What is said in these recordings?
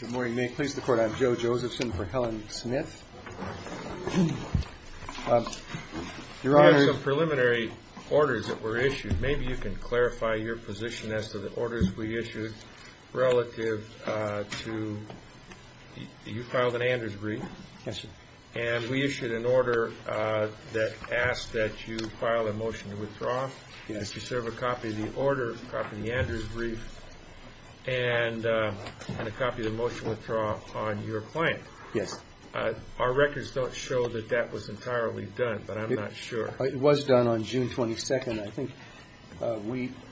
Good morning. May it please the Court, I'm Joe Josephson for Helen Smith. Your Honor... We have some preliminary orders that were issued. Maybe you can clarify your position as to the orders we issued relative to... You filed an Anders brief. Yes, sir. And we issued an order that asked that you file a motion to withdraw. Yes. Did she serve a copy of the order, a copy of the Anders brief, and a copy of the motion to withdraw on your client? Yes. Our records don't show that that was entirely done, but I'm not sure. It was done on June 22nd. I think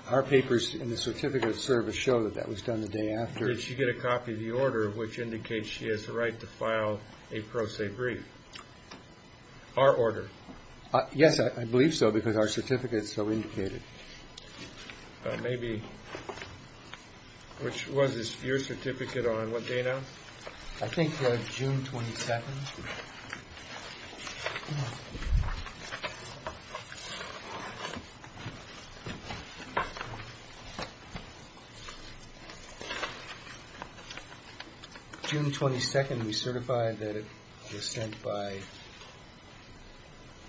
our papers in the certificate of service show that that was done the day after. Did she get a copy of the order, which indicates she has the right to file a pro se brief? Our order? Yes, I believe so, because our certificate is so indicated. Maybe... which was this, your certificate on what day now? I think June 22nd. June 22nd, we certify that it was sent by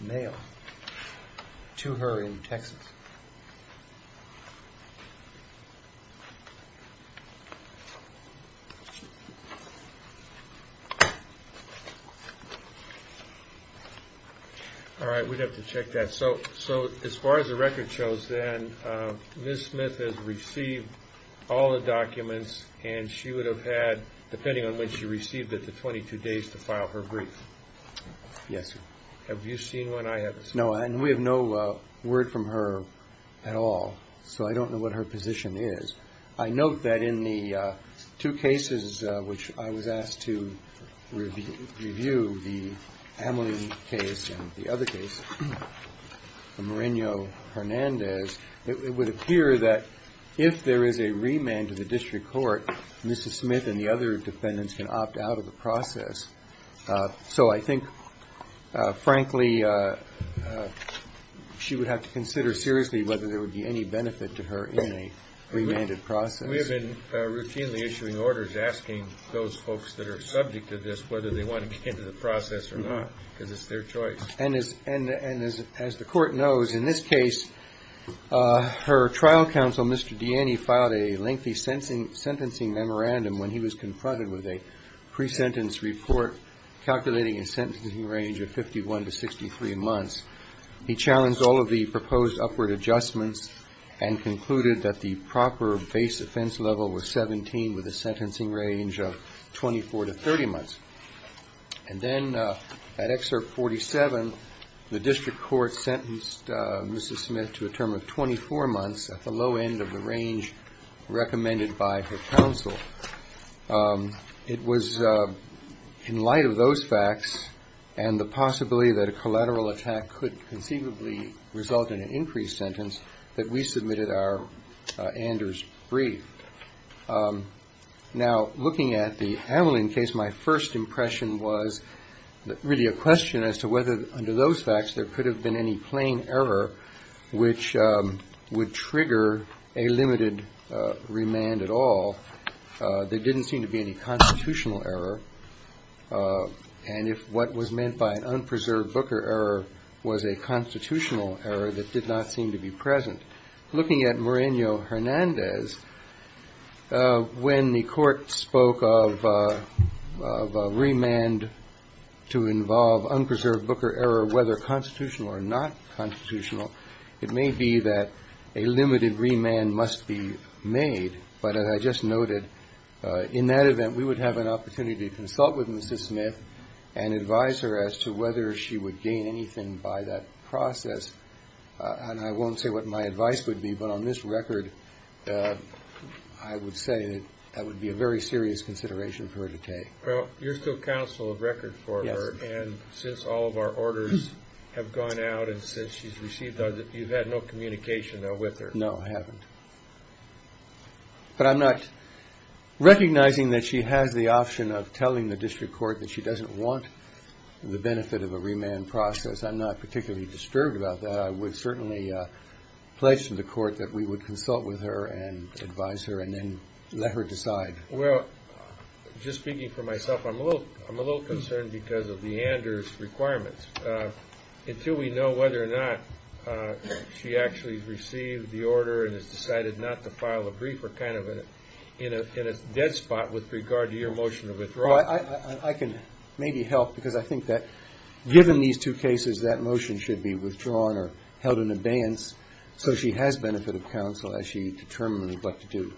mail to her in Texas. All right, we'd have to check that. So as far as the record shows, then, Ms. Smith has received all the documents, and she would have had, depending on when she received it, the 22 days to file her brief. Yes, sir. Have you seen one? I haven't seen one. No, and we have no word from her at all, so I don't know what her position is. I note that in the two cases which I was asked to review, the Hamline case and the other case, the Moreno-Hernandez, it would appear that if there is a remand to the district court, Mrs. Smith and the other defendants can opt out of the process. So I think, frankly, she would have to consider seriously whether there would be any benefit to her in a remanded process. We have been routinely issuing orders asking those folks that are subject to this whether they want to get into the process or not, because it's their choice. And as the court knows, in this case, her trial counsel, Mr. Diani, filed a lengthy sentencing memorandum when he was confronted with a pre-sentence report calculating a sentencing range of 51 to 63 months. He challenged all of the proposed upward adjustments and concluded that the proper base offense level was 17 with a sentencing range of 24 to 30 months. And then at Excerpt 47, the district court sentenced Mrs. Smith to a term of 24 months at the low end of the range recommended by her counsel. It was in light of those facts and the possibility that a collateral attack could conceivably result in an increased sentence that we submitted our Anders brief. Now, looking at the Aveline case, my first impression was really a question as to whether, under those facts, there could have been any plain error which would trigger a limited remand at all. There didn't seem to be any constitutional error. And if what was meant by an unpreserved Booker error was a constitutional error that did not seem to be present. Looking at Moreno-Hernandez, when the court spoke of a remand to involve unpreserved Booker error, whether constitutional or not constitutional, it may be that a limited remand must be made. But as I just noted, in that event, we would have an opportunity to consult with Mrs. Smith and advise her as to whether she would gain anything by that process. And I won't say what my advice would be, but on this record, I would say that that would be a very serious consideration for her to take. Well, you're still counsel of record for her. And since all of our orders have gone out and since she's received them, you've had no communication with her. No, I haven't. But I'm not recognizing that she has the option of telling the district court that she doesn't want the benefit of a remand process. I'm not particularly disturbed about that. I would certainly pledge to the court that we would consult with her and advise her and then let her decide. Well, just speaking for myself, I'm a little concerned because of the Anders requirements. Until we know whether or not she actually received the order and has decided not to file a brief, we're kind of in a dead spot with regard to your motion to withdraw. I can maybe help because I think that given these two cases, that motion should be withdrawn or held in abeyance so she has benefit of counsel as she determined would like to do.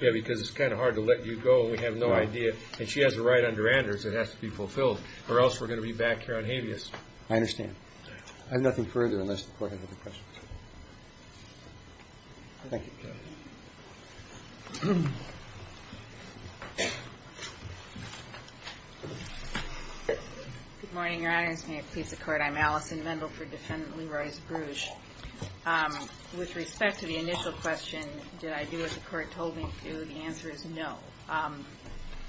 Yeah, because it's kind of hard to let you go. We have no idea. And she has a right under Anders that has to be fulfilled or else we're going to be back here on habeas. I understand. I have nothing further unless the court has other questions. Thank you. Good morning, Your Honors. May it please the court. I'm Allison Mendel for Defendant Leroy's Bruges. With respect to the initial question, did I do what the court told me to? The answer is no.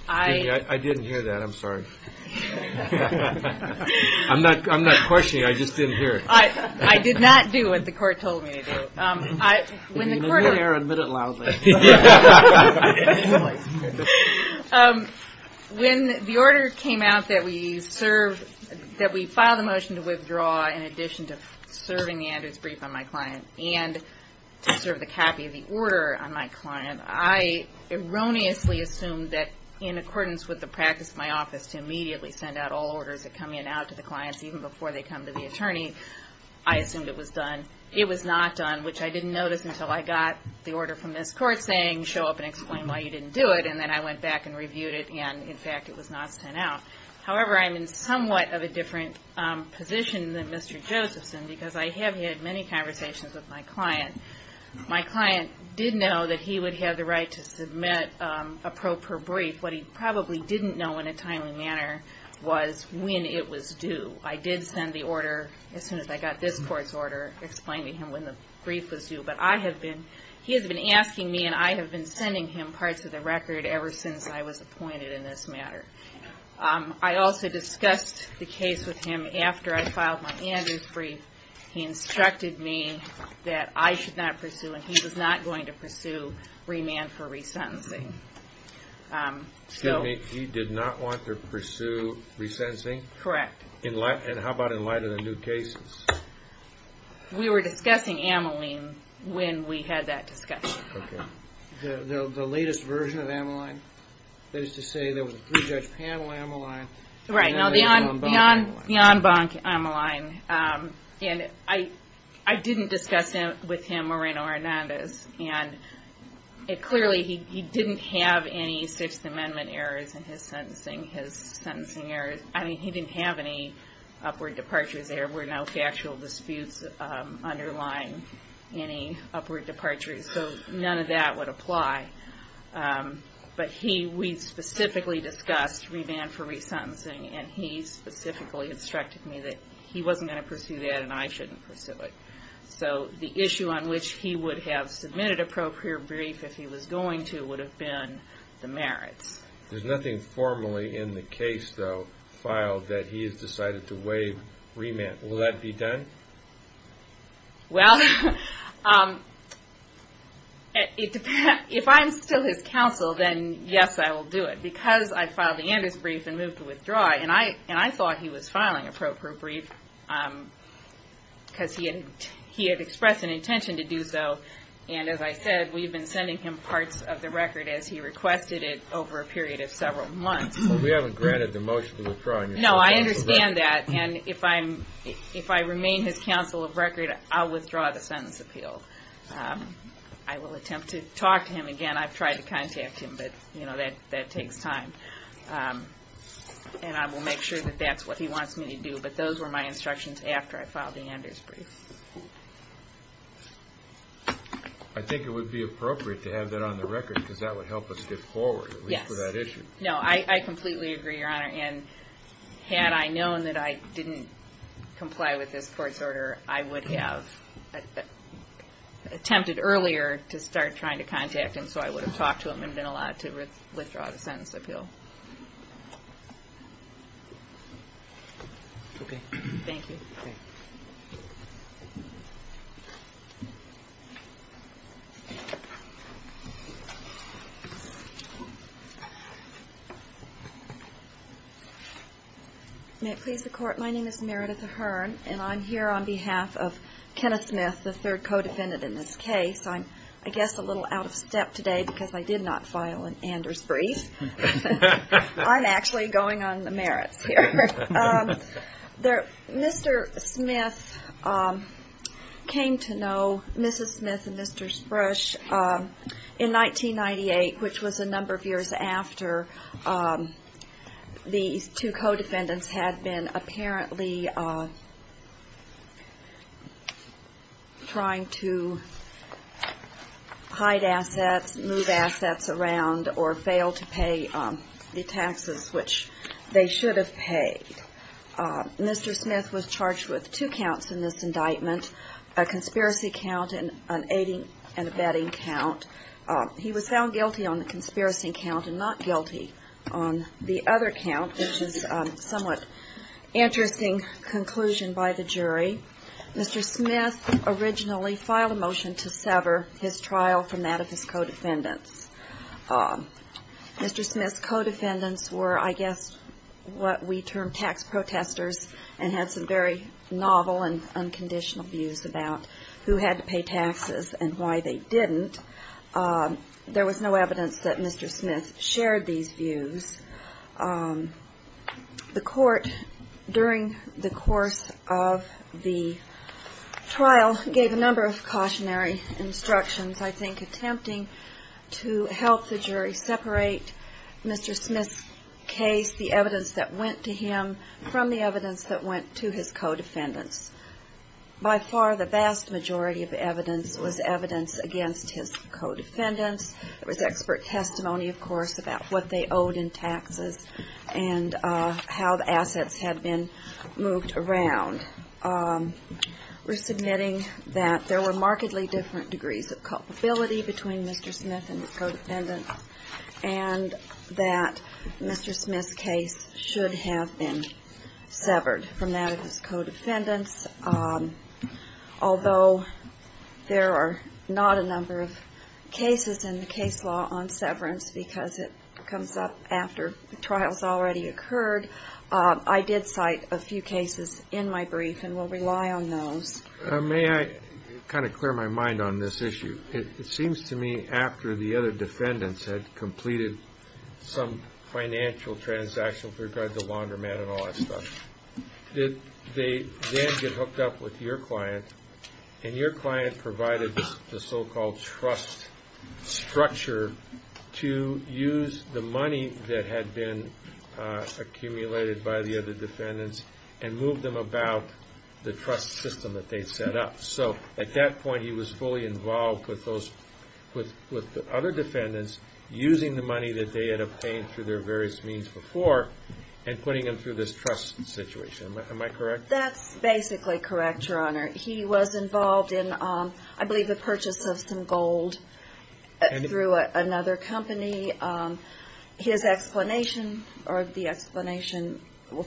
I didn't hear that. I'm sorry. I'm not I'm not questioning. I just didn't hear it. I did not do what the court told me to do. When the order came out that we file the motion to withdraw in addition to serving the Andrews brief on my client and to serve the copy of the order on my client, I erroneously assumed that in accordance with the practice of my office to immediately send out all orders that come in and out to the clients even before they come to the attorney. I assumed it was done. It was not done, which I didn't notice until I got the order from this court saying show up and explain why you didn't do it. And then I went back and reviewed it. And, in fact, it was not sent out. However, I'm in somewhat of a different position than Mr. Josephson because I have had many conversations with my client. My client did know that he would have the right to submit a pro per brief. What he probably didn't know in a timely manner was when it was due. I did send the order as soon as I got this court's order explaining to him when the brief was due. But I have been he has been asking me and I have been sending him parts of the record ever since I was appointed in this matter. I also discussed the case with him after I filed my Andrews brief. He instructed me that I should not pursue and he was not going to pursue remand for resentencing. Excuse me. He did not want to pursue resentencing? Correct. And how about in light of the new cases? We were discussing Ameline when we had that discussion. Okay. The latest version of Ameline is to say there was a pre-judge panel Ameline. Right. Beyond Ameline. I didn't discuss with him Moreno-Hernandez. Clearly he didn't have any Sixth Amendment errors in his sentencing. He didn't have any upward departures. There were no factual disputes underlying any upward departures. None of that would apply. But we specifically discussed remand for resentencing and he specifically instructed me that he wasn't going to pursue that and I shouldn't pursue it. So the issue on which he would have submitted appropriate brief if he was going to would have been the merits. There's nothing formally in the case though filed that he has decided to waive remand. Will that be done? Well, if I'm still his counsel then yes I will do it. Because I filed the Anders brief and moved to withdraw it and I thought he was filing appropriate brief because he had expressed an intention to do so and as I said we've been sending him parts of the record as he requested it over a period of several months. We haven't granted the motion to withdraw. No, I understand that and if I remain his counsel of record I'll withdraw the sentence appeal. I will attempt to talk to him again. I've tried to contact him but that takes time. And I will make sure that that's what he wants me to do. But those were my instructions after I filed the Anders brief. I think it would be appropriate to have that on the record because that would help us get forward. Yes. At least for that issue. No, I completely agree, Your Honor, and had I known that I didn't comply with this court's order I would have attempted earlier to start trying to contact him so I would have talked to him and been allowed to withdraw the sentence appeal. Okay. Thank you. May it please the Court, my name is Meredith Ahern and I'm here on behalf of Kenneth Smith, the third co-defendant in this case. I'm, I guess, a little out of step today because I did not file an Anders brief. I'm actually going on the merits here. Mr. Smith came to know Mrs. Smith and Mr. Sprush in 1998 which was a number of years after these two co-defendants had been apparently trying to hide assets, move assets around, or fail to pay the taxes which they should have paid. Mr. Smith was charged with two counts in this indictment, a conspiracy count and an aiding and abetting count. He was found guilty on the conspiracy count and not guilty on the other count which is a somewhat interesting conclusion by the jury. Mr. Smith originally filed a motion to sever his trial from that of his co-defendants. Mr. Smith's co-defendants were, I guess, what we term tax protesters and had some very novel and unconditional views about who had to pay taxes and why they didn't. There was no evidence that Mr. Smith shared these views. The court, during the course of the trial, gave a number of cautionary instructions, I think attempting to help the jury separate Mr. Smith's case, the evidence that went to him from the evidence that went to his co-defendants. By far the vast majority of evidence was evidence against his co-defendants. There was expert testimony, of course, about what they owed in taxes and how the assets had been moved around. We're submitting that there were markedly different degrees of culpability between Mr. Smith and his co-defendants and that Mr. Smith's case should have been severed from that of his co-defendants. Although there are not a number of cases in the case law on severance because it comes up after the trial has already occurred, I did cite a few cases in my brief and will rely on those. May I kind of clear my mind on this issue? It seems to me after the other defendants had completed some financial transaction with regard to laundromat and all that stuff, did they then get hooked up with your client and your client provided the so-called trust structure to use the money that had been accumulated by the other defendants and move them about the trust system that they'd set up. So at that point he was fully involved with the other defendants using the money that they had obtained through their various means before and putting them through this trust situation. Am I correct? That's basically correct, Your Honor. He was involved in, I believe, the purchase of some gold through another company. His explanation or the explanation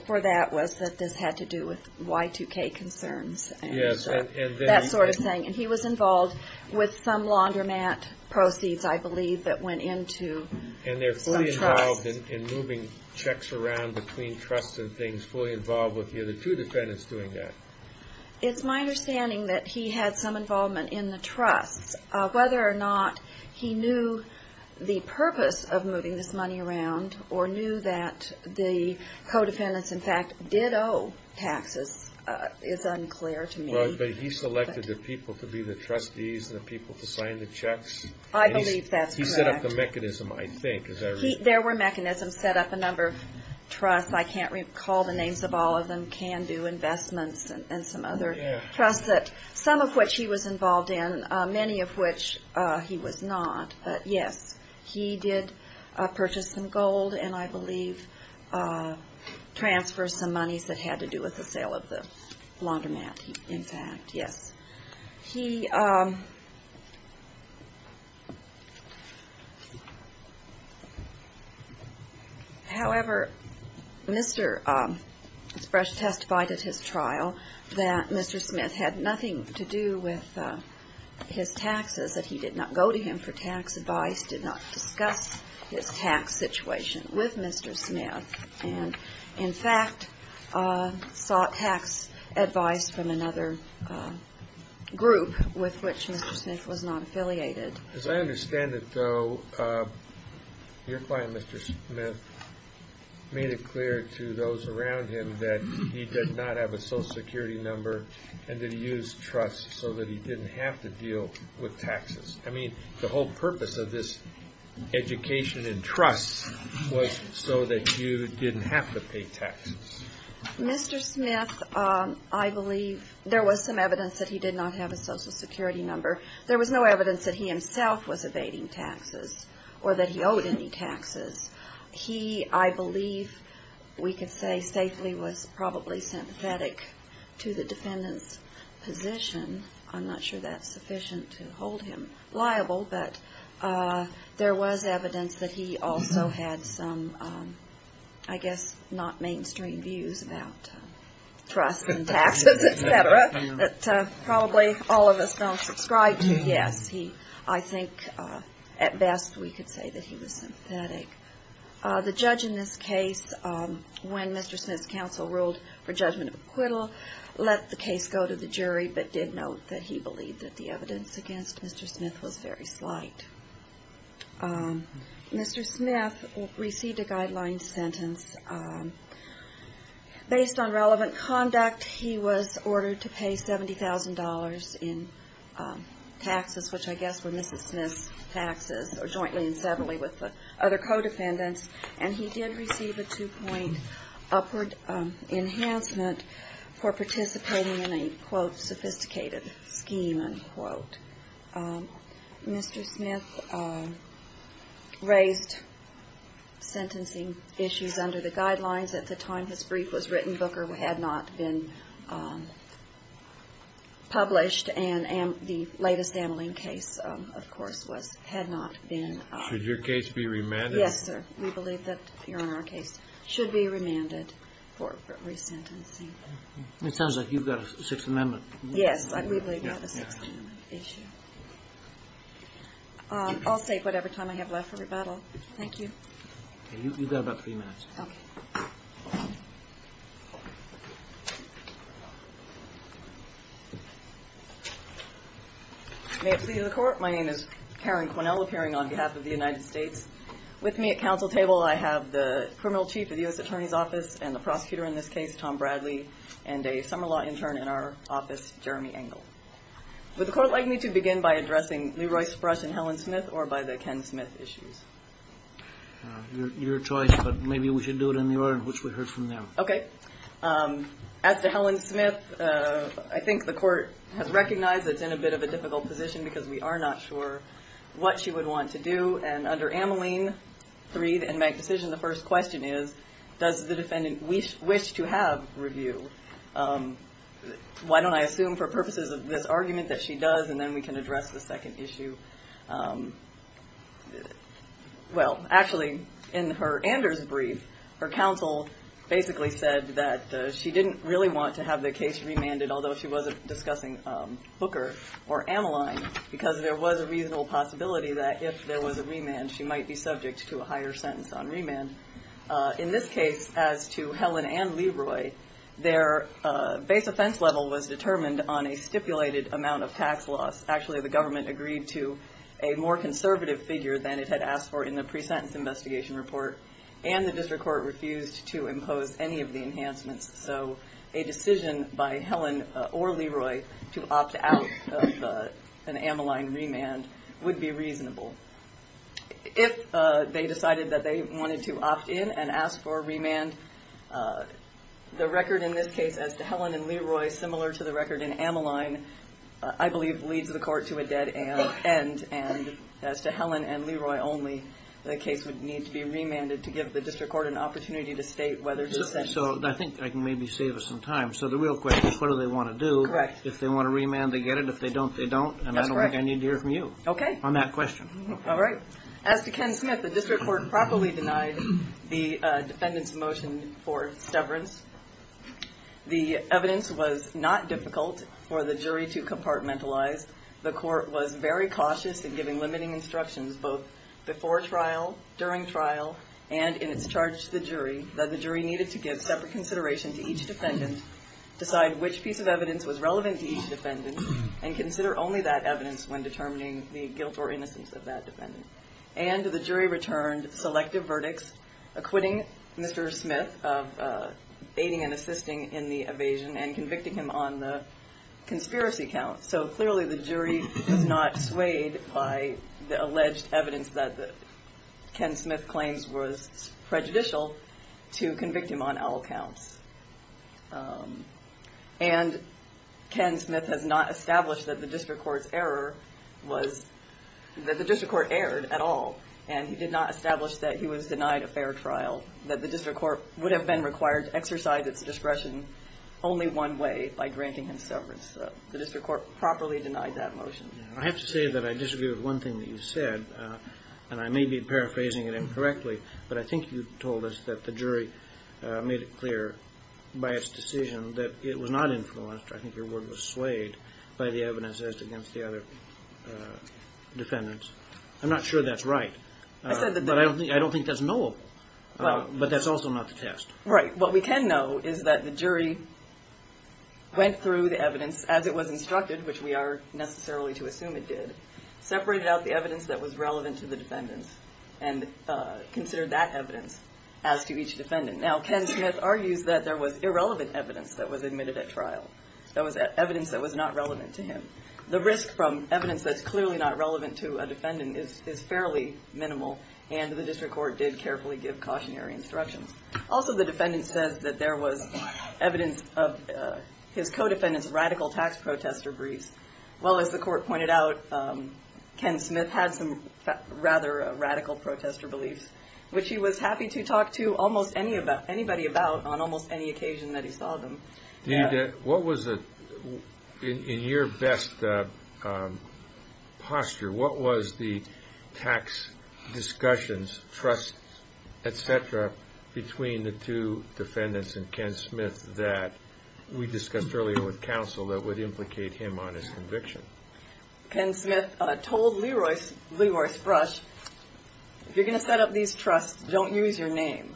for that was that this had to do with Y2K concerns. Yes. That sort of thing. And he was involved with some laundromat proceeds, I believe, that went into some trust. And they're fully involved in moving checks around between trusts and things, fully involved with the other two defendants doing that. It's my understanding that he had some involvement in the trusts. Whether or not he knew the purpose of moving this money around or knew that the co-defendants, in fact, did owe taxes is unclear to me. But he selected the people to be the trustees and the people to sign the checks. I believe that's correct. The mechanism, I think. There were mechanisms set up, a number of trusts. I can't recall the names of all of them. Candu Investments and some other trusts, some of which he was involved in, many of which he was not. But, yes, he did purchase some gold and, I believe, transfer some monies that had to do with the sale of the laundromat, in fact. Yes. He, however, Mr. Spresh testified at his trial that Mr. Smith had nothing to do with his taxes, that he did not go to him for tax advice, did not discuss his tax situation with Mr. Smith, and, in fact, sought tax advice from another group with which Mr. Smith was not affiliated. As I understand it, though, your client, Mr. Smith, made it clear to those around him that he did not have a Social Security number and that he used trusts so that he didn't have to deal with taxes. I mean, the whole purpose of this education in trusts was so that you didn't have to pay taxes. Mr. Smith, I believe, there was some evidence that he did not have a Social Security number. There was no evidence that he himself was evading taxes or that he owed any taxes. He, I believe, we could say, safely was probably sympathetic to the defendant's position. I'm not sure that's sufficient to hold him liable, but there was evidence that he also had some, I guess, not mainstream views about trusts and taxes, et cetera, that probably all of us don't subscribe to. Yes, I think at best we could say that he was sympathetic. The judge in this case, when Mr. Smith's counsel ruled for judgment of acquittal, let the case go to the jury but did note that he believed that the evidence against Mr. Smith was very slight. Mr. Smith received a guideline sentence. Based on relevant conduct, he was ordered to pay $70,000 in taxes, which I guess were Mrs. Smith's taxes jointly and separately with the other codependents, and he did receive a two-point upward enhancement for participating in a, quote, sophisticated scheme, unquote. Mr. Smith raised sentencing issues under the guidelines. At the time his brief was written, Booker had not been published, and the latest Ameline case, of course, had not been. Should your case be remanded? Yes, sir. We believe that your Honor, our case should be remanded for resentencing. It sounds like you've got a Sixth Amendment. Yes, we believe that's a Sixth Amendment issue. I'll take whatever time I have left for rebuttal. You've got about three minutes. Okay. May it please the Court? My name is Karen Quinnell, appearing on behalf of the United States. With me at counsel table I have the criminal chief of the U.S. Attorney's Office and the prosecutor in this case, Tom Bradley, and a summer law intern in our office, Jeremy Engel. Would the Court like me to begin by addressing Leroy Sprush and Helen Smith or by the Ken Smith issues? Your choice, but maybe we should do it in Leroy, which we heard from them. Okay. As to Helen Smith, I think the Court has recognized that it's in a bit of a difficult position because we are not sure what she would want to do. And under Ameline 3, the inmate decision, the first question is, does the defendant wish to have review? Why don't I assume for purposes of this argument that she does, and then we can address the second issue. Well, actually, in her Anders brief, her counsel basically said that she didn't really want to have the case remanded, although she was discussing Booker or Ameline, because there was a reasonable possibility that if there was a remand, she might be subject to a higher sentence on remand. In this case, as to Helen and Leroy, their base offense level was determined on a stipulated amount of tax loss. Actually, the government agreed to a more conservative figure than it had asked for in the pre-sentence investigation report, and the District Court refused to impose any of the enhancements. So a decision by Helen or Leroy to opt out of an Ameline remand would be reasonable. If they decided that they wanted to opt in and ask for a remand, the record in this case as to Helen and Leroy, similar to the record in Ameline, I believe leads the court to a dead end, and as to Helen and Leroy only, the case would need to be remanded to give the District Court an opportunity to state whether to sentence. So I think I can maybe save us some time. So the real question is what do they want to do? Correct. If they want a remand, they get it. If they don't, they don't. That's correct. And I don't think I need to hear from you on that question. All right. As to Ken Smith, the District Court properly denied the defendant's motion for severance. The evidence was not difficult for the jury to compartmentalize. The court was very cautious in giving limiting instructions, both before trial, during trial, and in its charge to the jury, that the jury needed to give separate consideration to each defendant, decide which piece of evidence was relevant to each defendant, and consider only that evidence when determining the guilt or innocence of that defendant. And the jury returned selective verdicts, acquitting Mr. Smith of aiding and assisting in the evasion and convicting him on the conspiracy count. So clearly the jury was not swayed by the alleged evidence that Ken Smith claims was prejudicial to convict him on all counts. And Ken Smith has not established that the District Court's error was that the District Court erred at all, and he did not establish that he was denied a fair trial, that the District Court would have been required to exercise its discretion only one way, by granting him severance. So the District Court properly denied that motion. I have to say that I disagree with one thing that you said, and I may be paraphrasing it incorrectly, but I think you told us that the jury made it clear by its decision that it was not influenced, I think your word was swayed, by the evidence as against the other defendants. I'm not sure that's right, but I don't think that's knowable. But that's also not the test. Right. What we can know is that the jury went through the evidence as it was instructed, which we are necessarily to assume it did, separated out the evidence that was relevant to the defendants, and considered that evidence as to each defendant. Now, Ken Smith argues that there was irrelevant evidence that was admitted at trial. There was evidence that was not relevant to him. The risk from evidence that's clearly not relevant to a defendant is fairly minimal, and the District Court did carefully give cautionary instructions. Also, the defendant says that there was evidence of his co-defendant's radical tax protester briefs. Well, as the court pointed out, Ken Smith had some rather radical protester briefs, which he was happy to talk to almost anybody about on almost any occasion that he saw them. In your best posture, what was the tax discussions, trusts, et cetera, between the two defendants and Ken Smith that we discussed earlier with counsel that would implicate him on his conviction? Ken Smith told Leroy Sprush, if you're going to set up these trusts, don't use your name.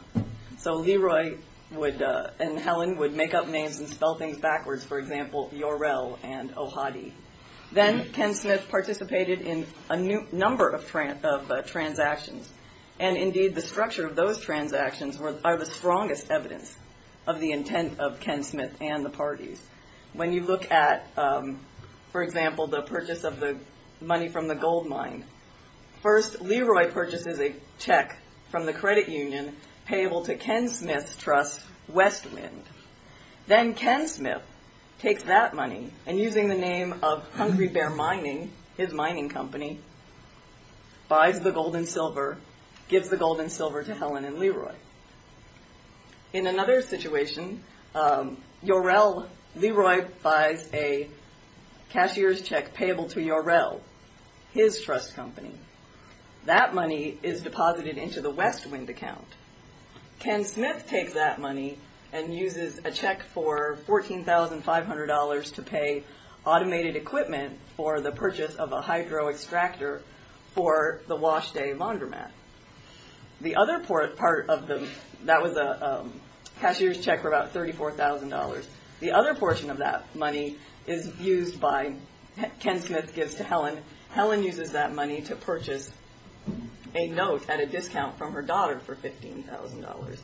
So Leroy and Helen would make up names and spell things backwards, for example, Yorel and Ohadi. Then Ken Smith participated in a number of transactions, and indeed the structure of those transactions are the strongest evidence of the intent of Ken Smith and the parties. When you look at, for example, the purchase of the money from the gold mine, first Leroy purchases a check from the credit union payable to Ken Smith's trust, Westwind. Then Ken Smith takes that money and using the name of Hungry Bear Mining, his mining company, buys the gold and silver, gives the gold and silver to Helen and Leroy. In another situation, Leroy buys a cashier's check payable to Yorel, his trust company. That money is deposited into the Westwind account. Ken Smith takes that money and uses a check for $14,500 to pay automated equipment for the purchase of a hydro extractor for the Wash Day laundromat. The other part of the, that was a cashier's check for about $34,000. The other portion of that money is used by, Ken Smith gives to Helen. Helen uses that money to purchase a note at a discount from her daughter for $15,000.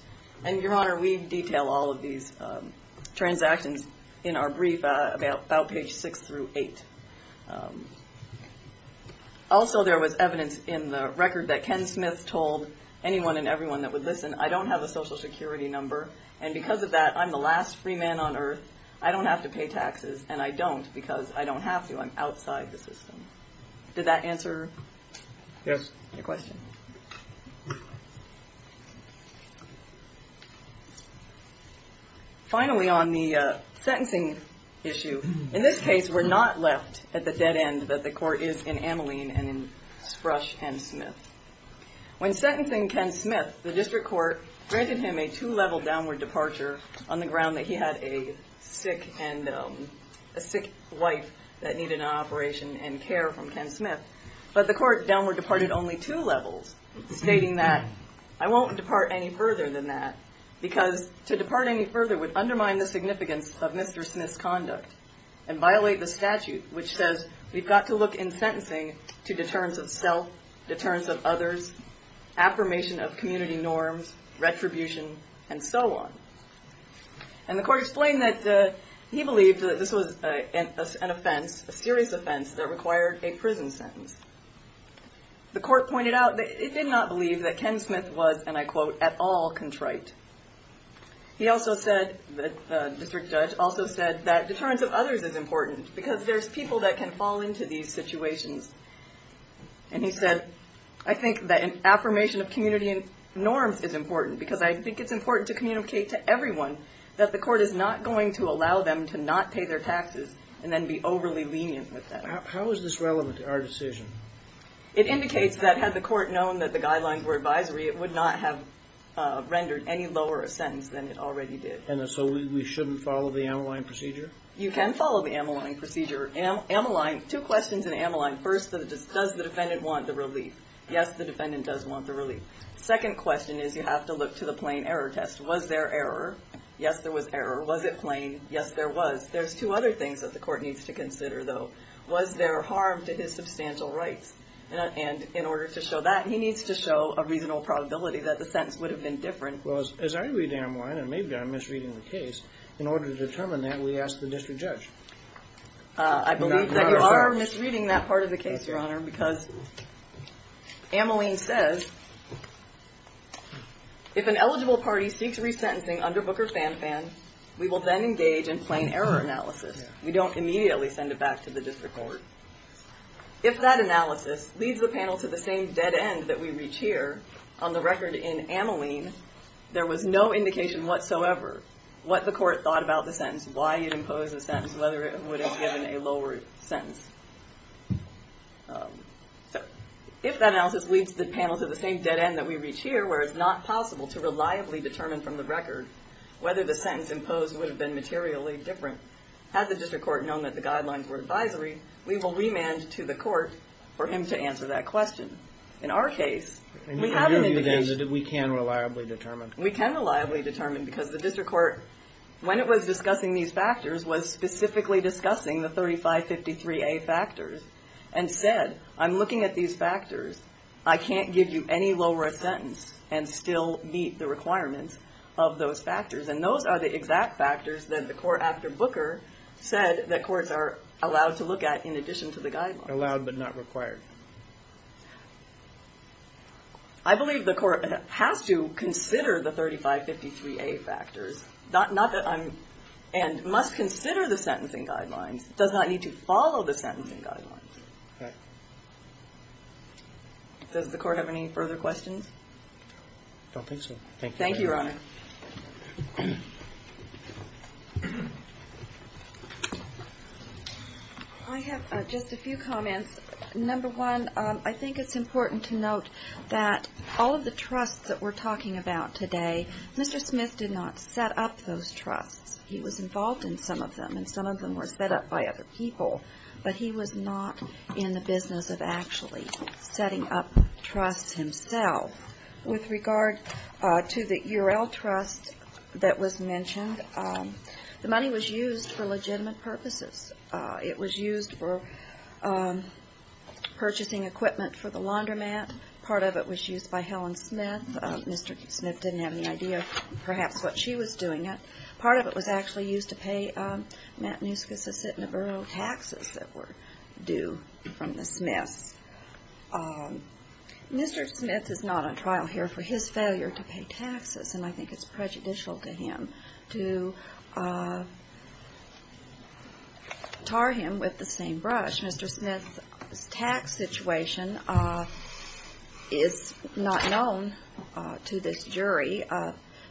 And Your Honor, we detail all of these transactions in our brief about page six through eight. Also, there was evidence in the record that Ken Smith told anyone and everyone that would listen, I don't have a social security number. And because of that, I'm the last free man on earth. I don't have to pay taxes. And I don't because I don't have to. I'm outside the system. Did that answer your question? Finally, on the sentencing issue, in this case, we're not left at the dead end that the court is in Ameline and in Sprush and Smith. When sentencing Ken Smith, the district court granted him a two-level downward departure on the ground that he had a sick wife that needed an operation and care from Ken Smith. But the court downward departed only two levels, stating that I won't depart any further than that, because to depart any further would undermine the significance of Mr. Smith's conduct and violate the statute, which says we've got to look in sentencing to deterrence of self, deterrence of others, affirmation of community norms, retribution, and so on. And the court explained that he believed that this was an offense, a serious offense, that required a prison sentence. The court pointed out that it did not believe that Ken Smith was, and I quote, at all contrite. He also said, the district judge also said, that deterrence of others is important because there's people that can fall into these situations. And he said, I think that an affirmation of community norms is important because I think it's important to communicate to everyone that the court is not going to allow them to not pay their taxes and then be overly lenient with them. How is this relevant to our decision? It indicates that had the court known that the guidelines were advisory, it would not have rendered any lower a sentence than it already did. And so we shouldn't follow the Ameline procedure? You can follow the Ameline procedure. Ameline, two questions in Ameline. First, does the defendant want the relief? Yes, the defendant does want the relief. Second question is, you have to look to the plain error test. Was there error? Yes, there was error. Was it plain? Yes, there was. There's two other things that the court needs to consider, though. Was there harm to his substantial rights? And in order to show that, he needs to show a reasonable probability that the sentence would have been different. Well, as I read Ameline, and maybe I'm misreading the case, in order to determine that, we ask the district judge. I believe that you are misreading that part of the case, Your Honor, because Ameline says, if an eligible party seeks resentencing under Booker-Fan-Fan, we will then engage in plain error analysis. We don't immediately send it back to the district court. If that analysis leads the panel to the same dead end that we reach here, on the record in Ameline, there was no indication whatsoever what the court thought about the sentence, why it imposed the sentence, whether it would have given a lower sentence. If that analysis leads the panel to the same dead end that we reach here, where it's not possible to reliably determine from the record whether the sentence imposed would have been materially different, had the district court known that the guidelines were advisory, we will remand to the court for him to answer that question. In our case, we have an indication. And from your view, then, that we can reliably determine? We can reliably determine, because the district court, when it was discussing these factors, was specifically discussing the 3553A factors, and said, I'm looking at these factors. I can't give you any lower a sentence and still meet the requirements of those factors. And those are the exact factors that the court, after Booker, said that courts are allowed to look at in addition to the guidelines. Allowed but not required. I believe the court has to consider the 3553A factors. And must consider the sentencing guidelines. Does not need to follow the sentencing guidelines. Does the court have any further questions? I don't think so. Thank you, Your Honor. I have just a few comments. Number one, I think it's important to note that all of the trusts that we're talking about today, Mr. Smith did not set up those trusts. He was involved in some of them, and some of them were set up by other people. But he was not in the business of actually setting up trusts himself. With regard to the URL trust that was mentioned, the money was used for legitimate purposes. It was used for purchasing equipment for the laundromat. Part of it was used by Helen Smith. Mr. Smith didn't have any idea, perhaps, what she was doing it. Part of it was actually used to pay Matanuska-Sisitnaburo taxes that were due from the Smiths. Mr. Smith is not on trial here for his failure to pay taxes, and I think it's prejudicial to him to tar him with the same brush. Mr. Smith's tax situation is not known to this jury.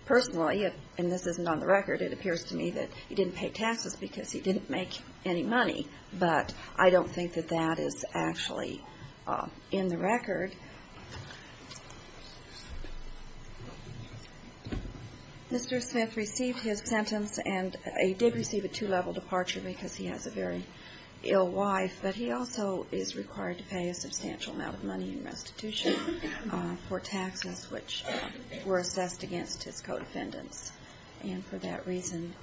Personally, and this isn't on the record, it appears to me that he didn't pay taxes because he didn't make any money, but I don't think that that is actually in the record. Mr. Smith received his sentence, and he did receive a two-level departure because he has a very ill wife, but he also is required to pay a substantial amount of money in restitution for taxes which were assessed against his co-defendants. And for that reason,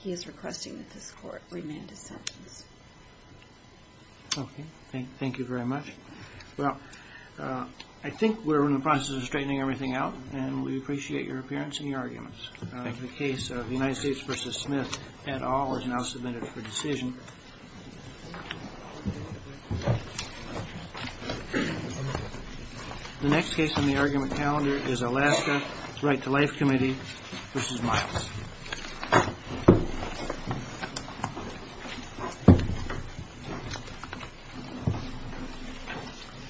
he is requesting that this Court remand his sentence. Okay. Thank you very much. Well, I think we're in the process of straightening everything out, and we appreciate your appearance and your arguments. The case of the United States v. Smith et al. is now submitted for decision. The next case on the argument calendar is Alaska's Right to Life Committee v. Miles.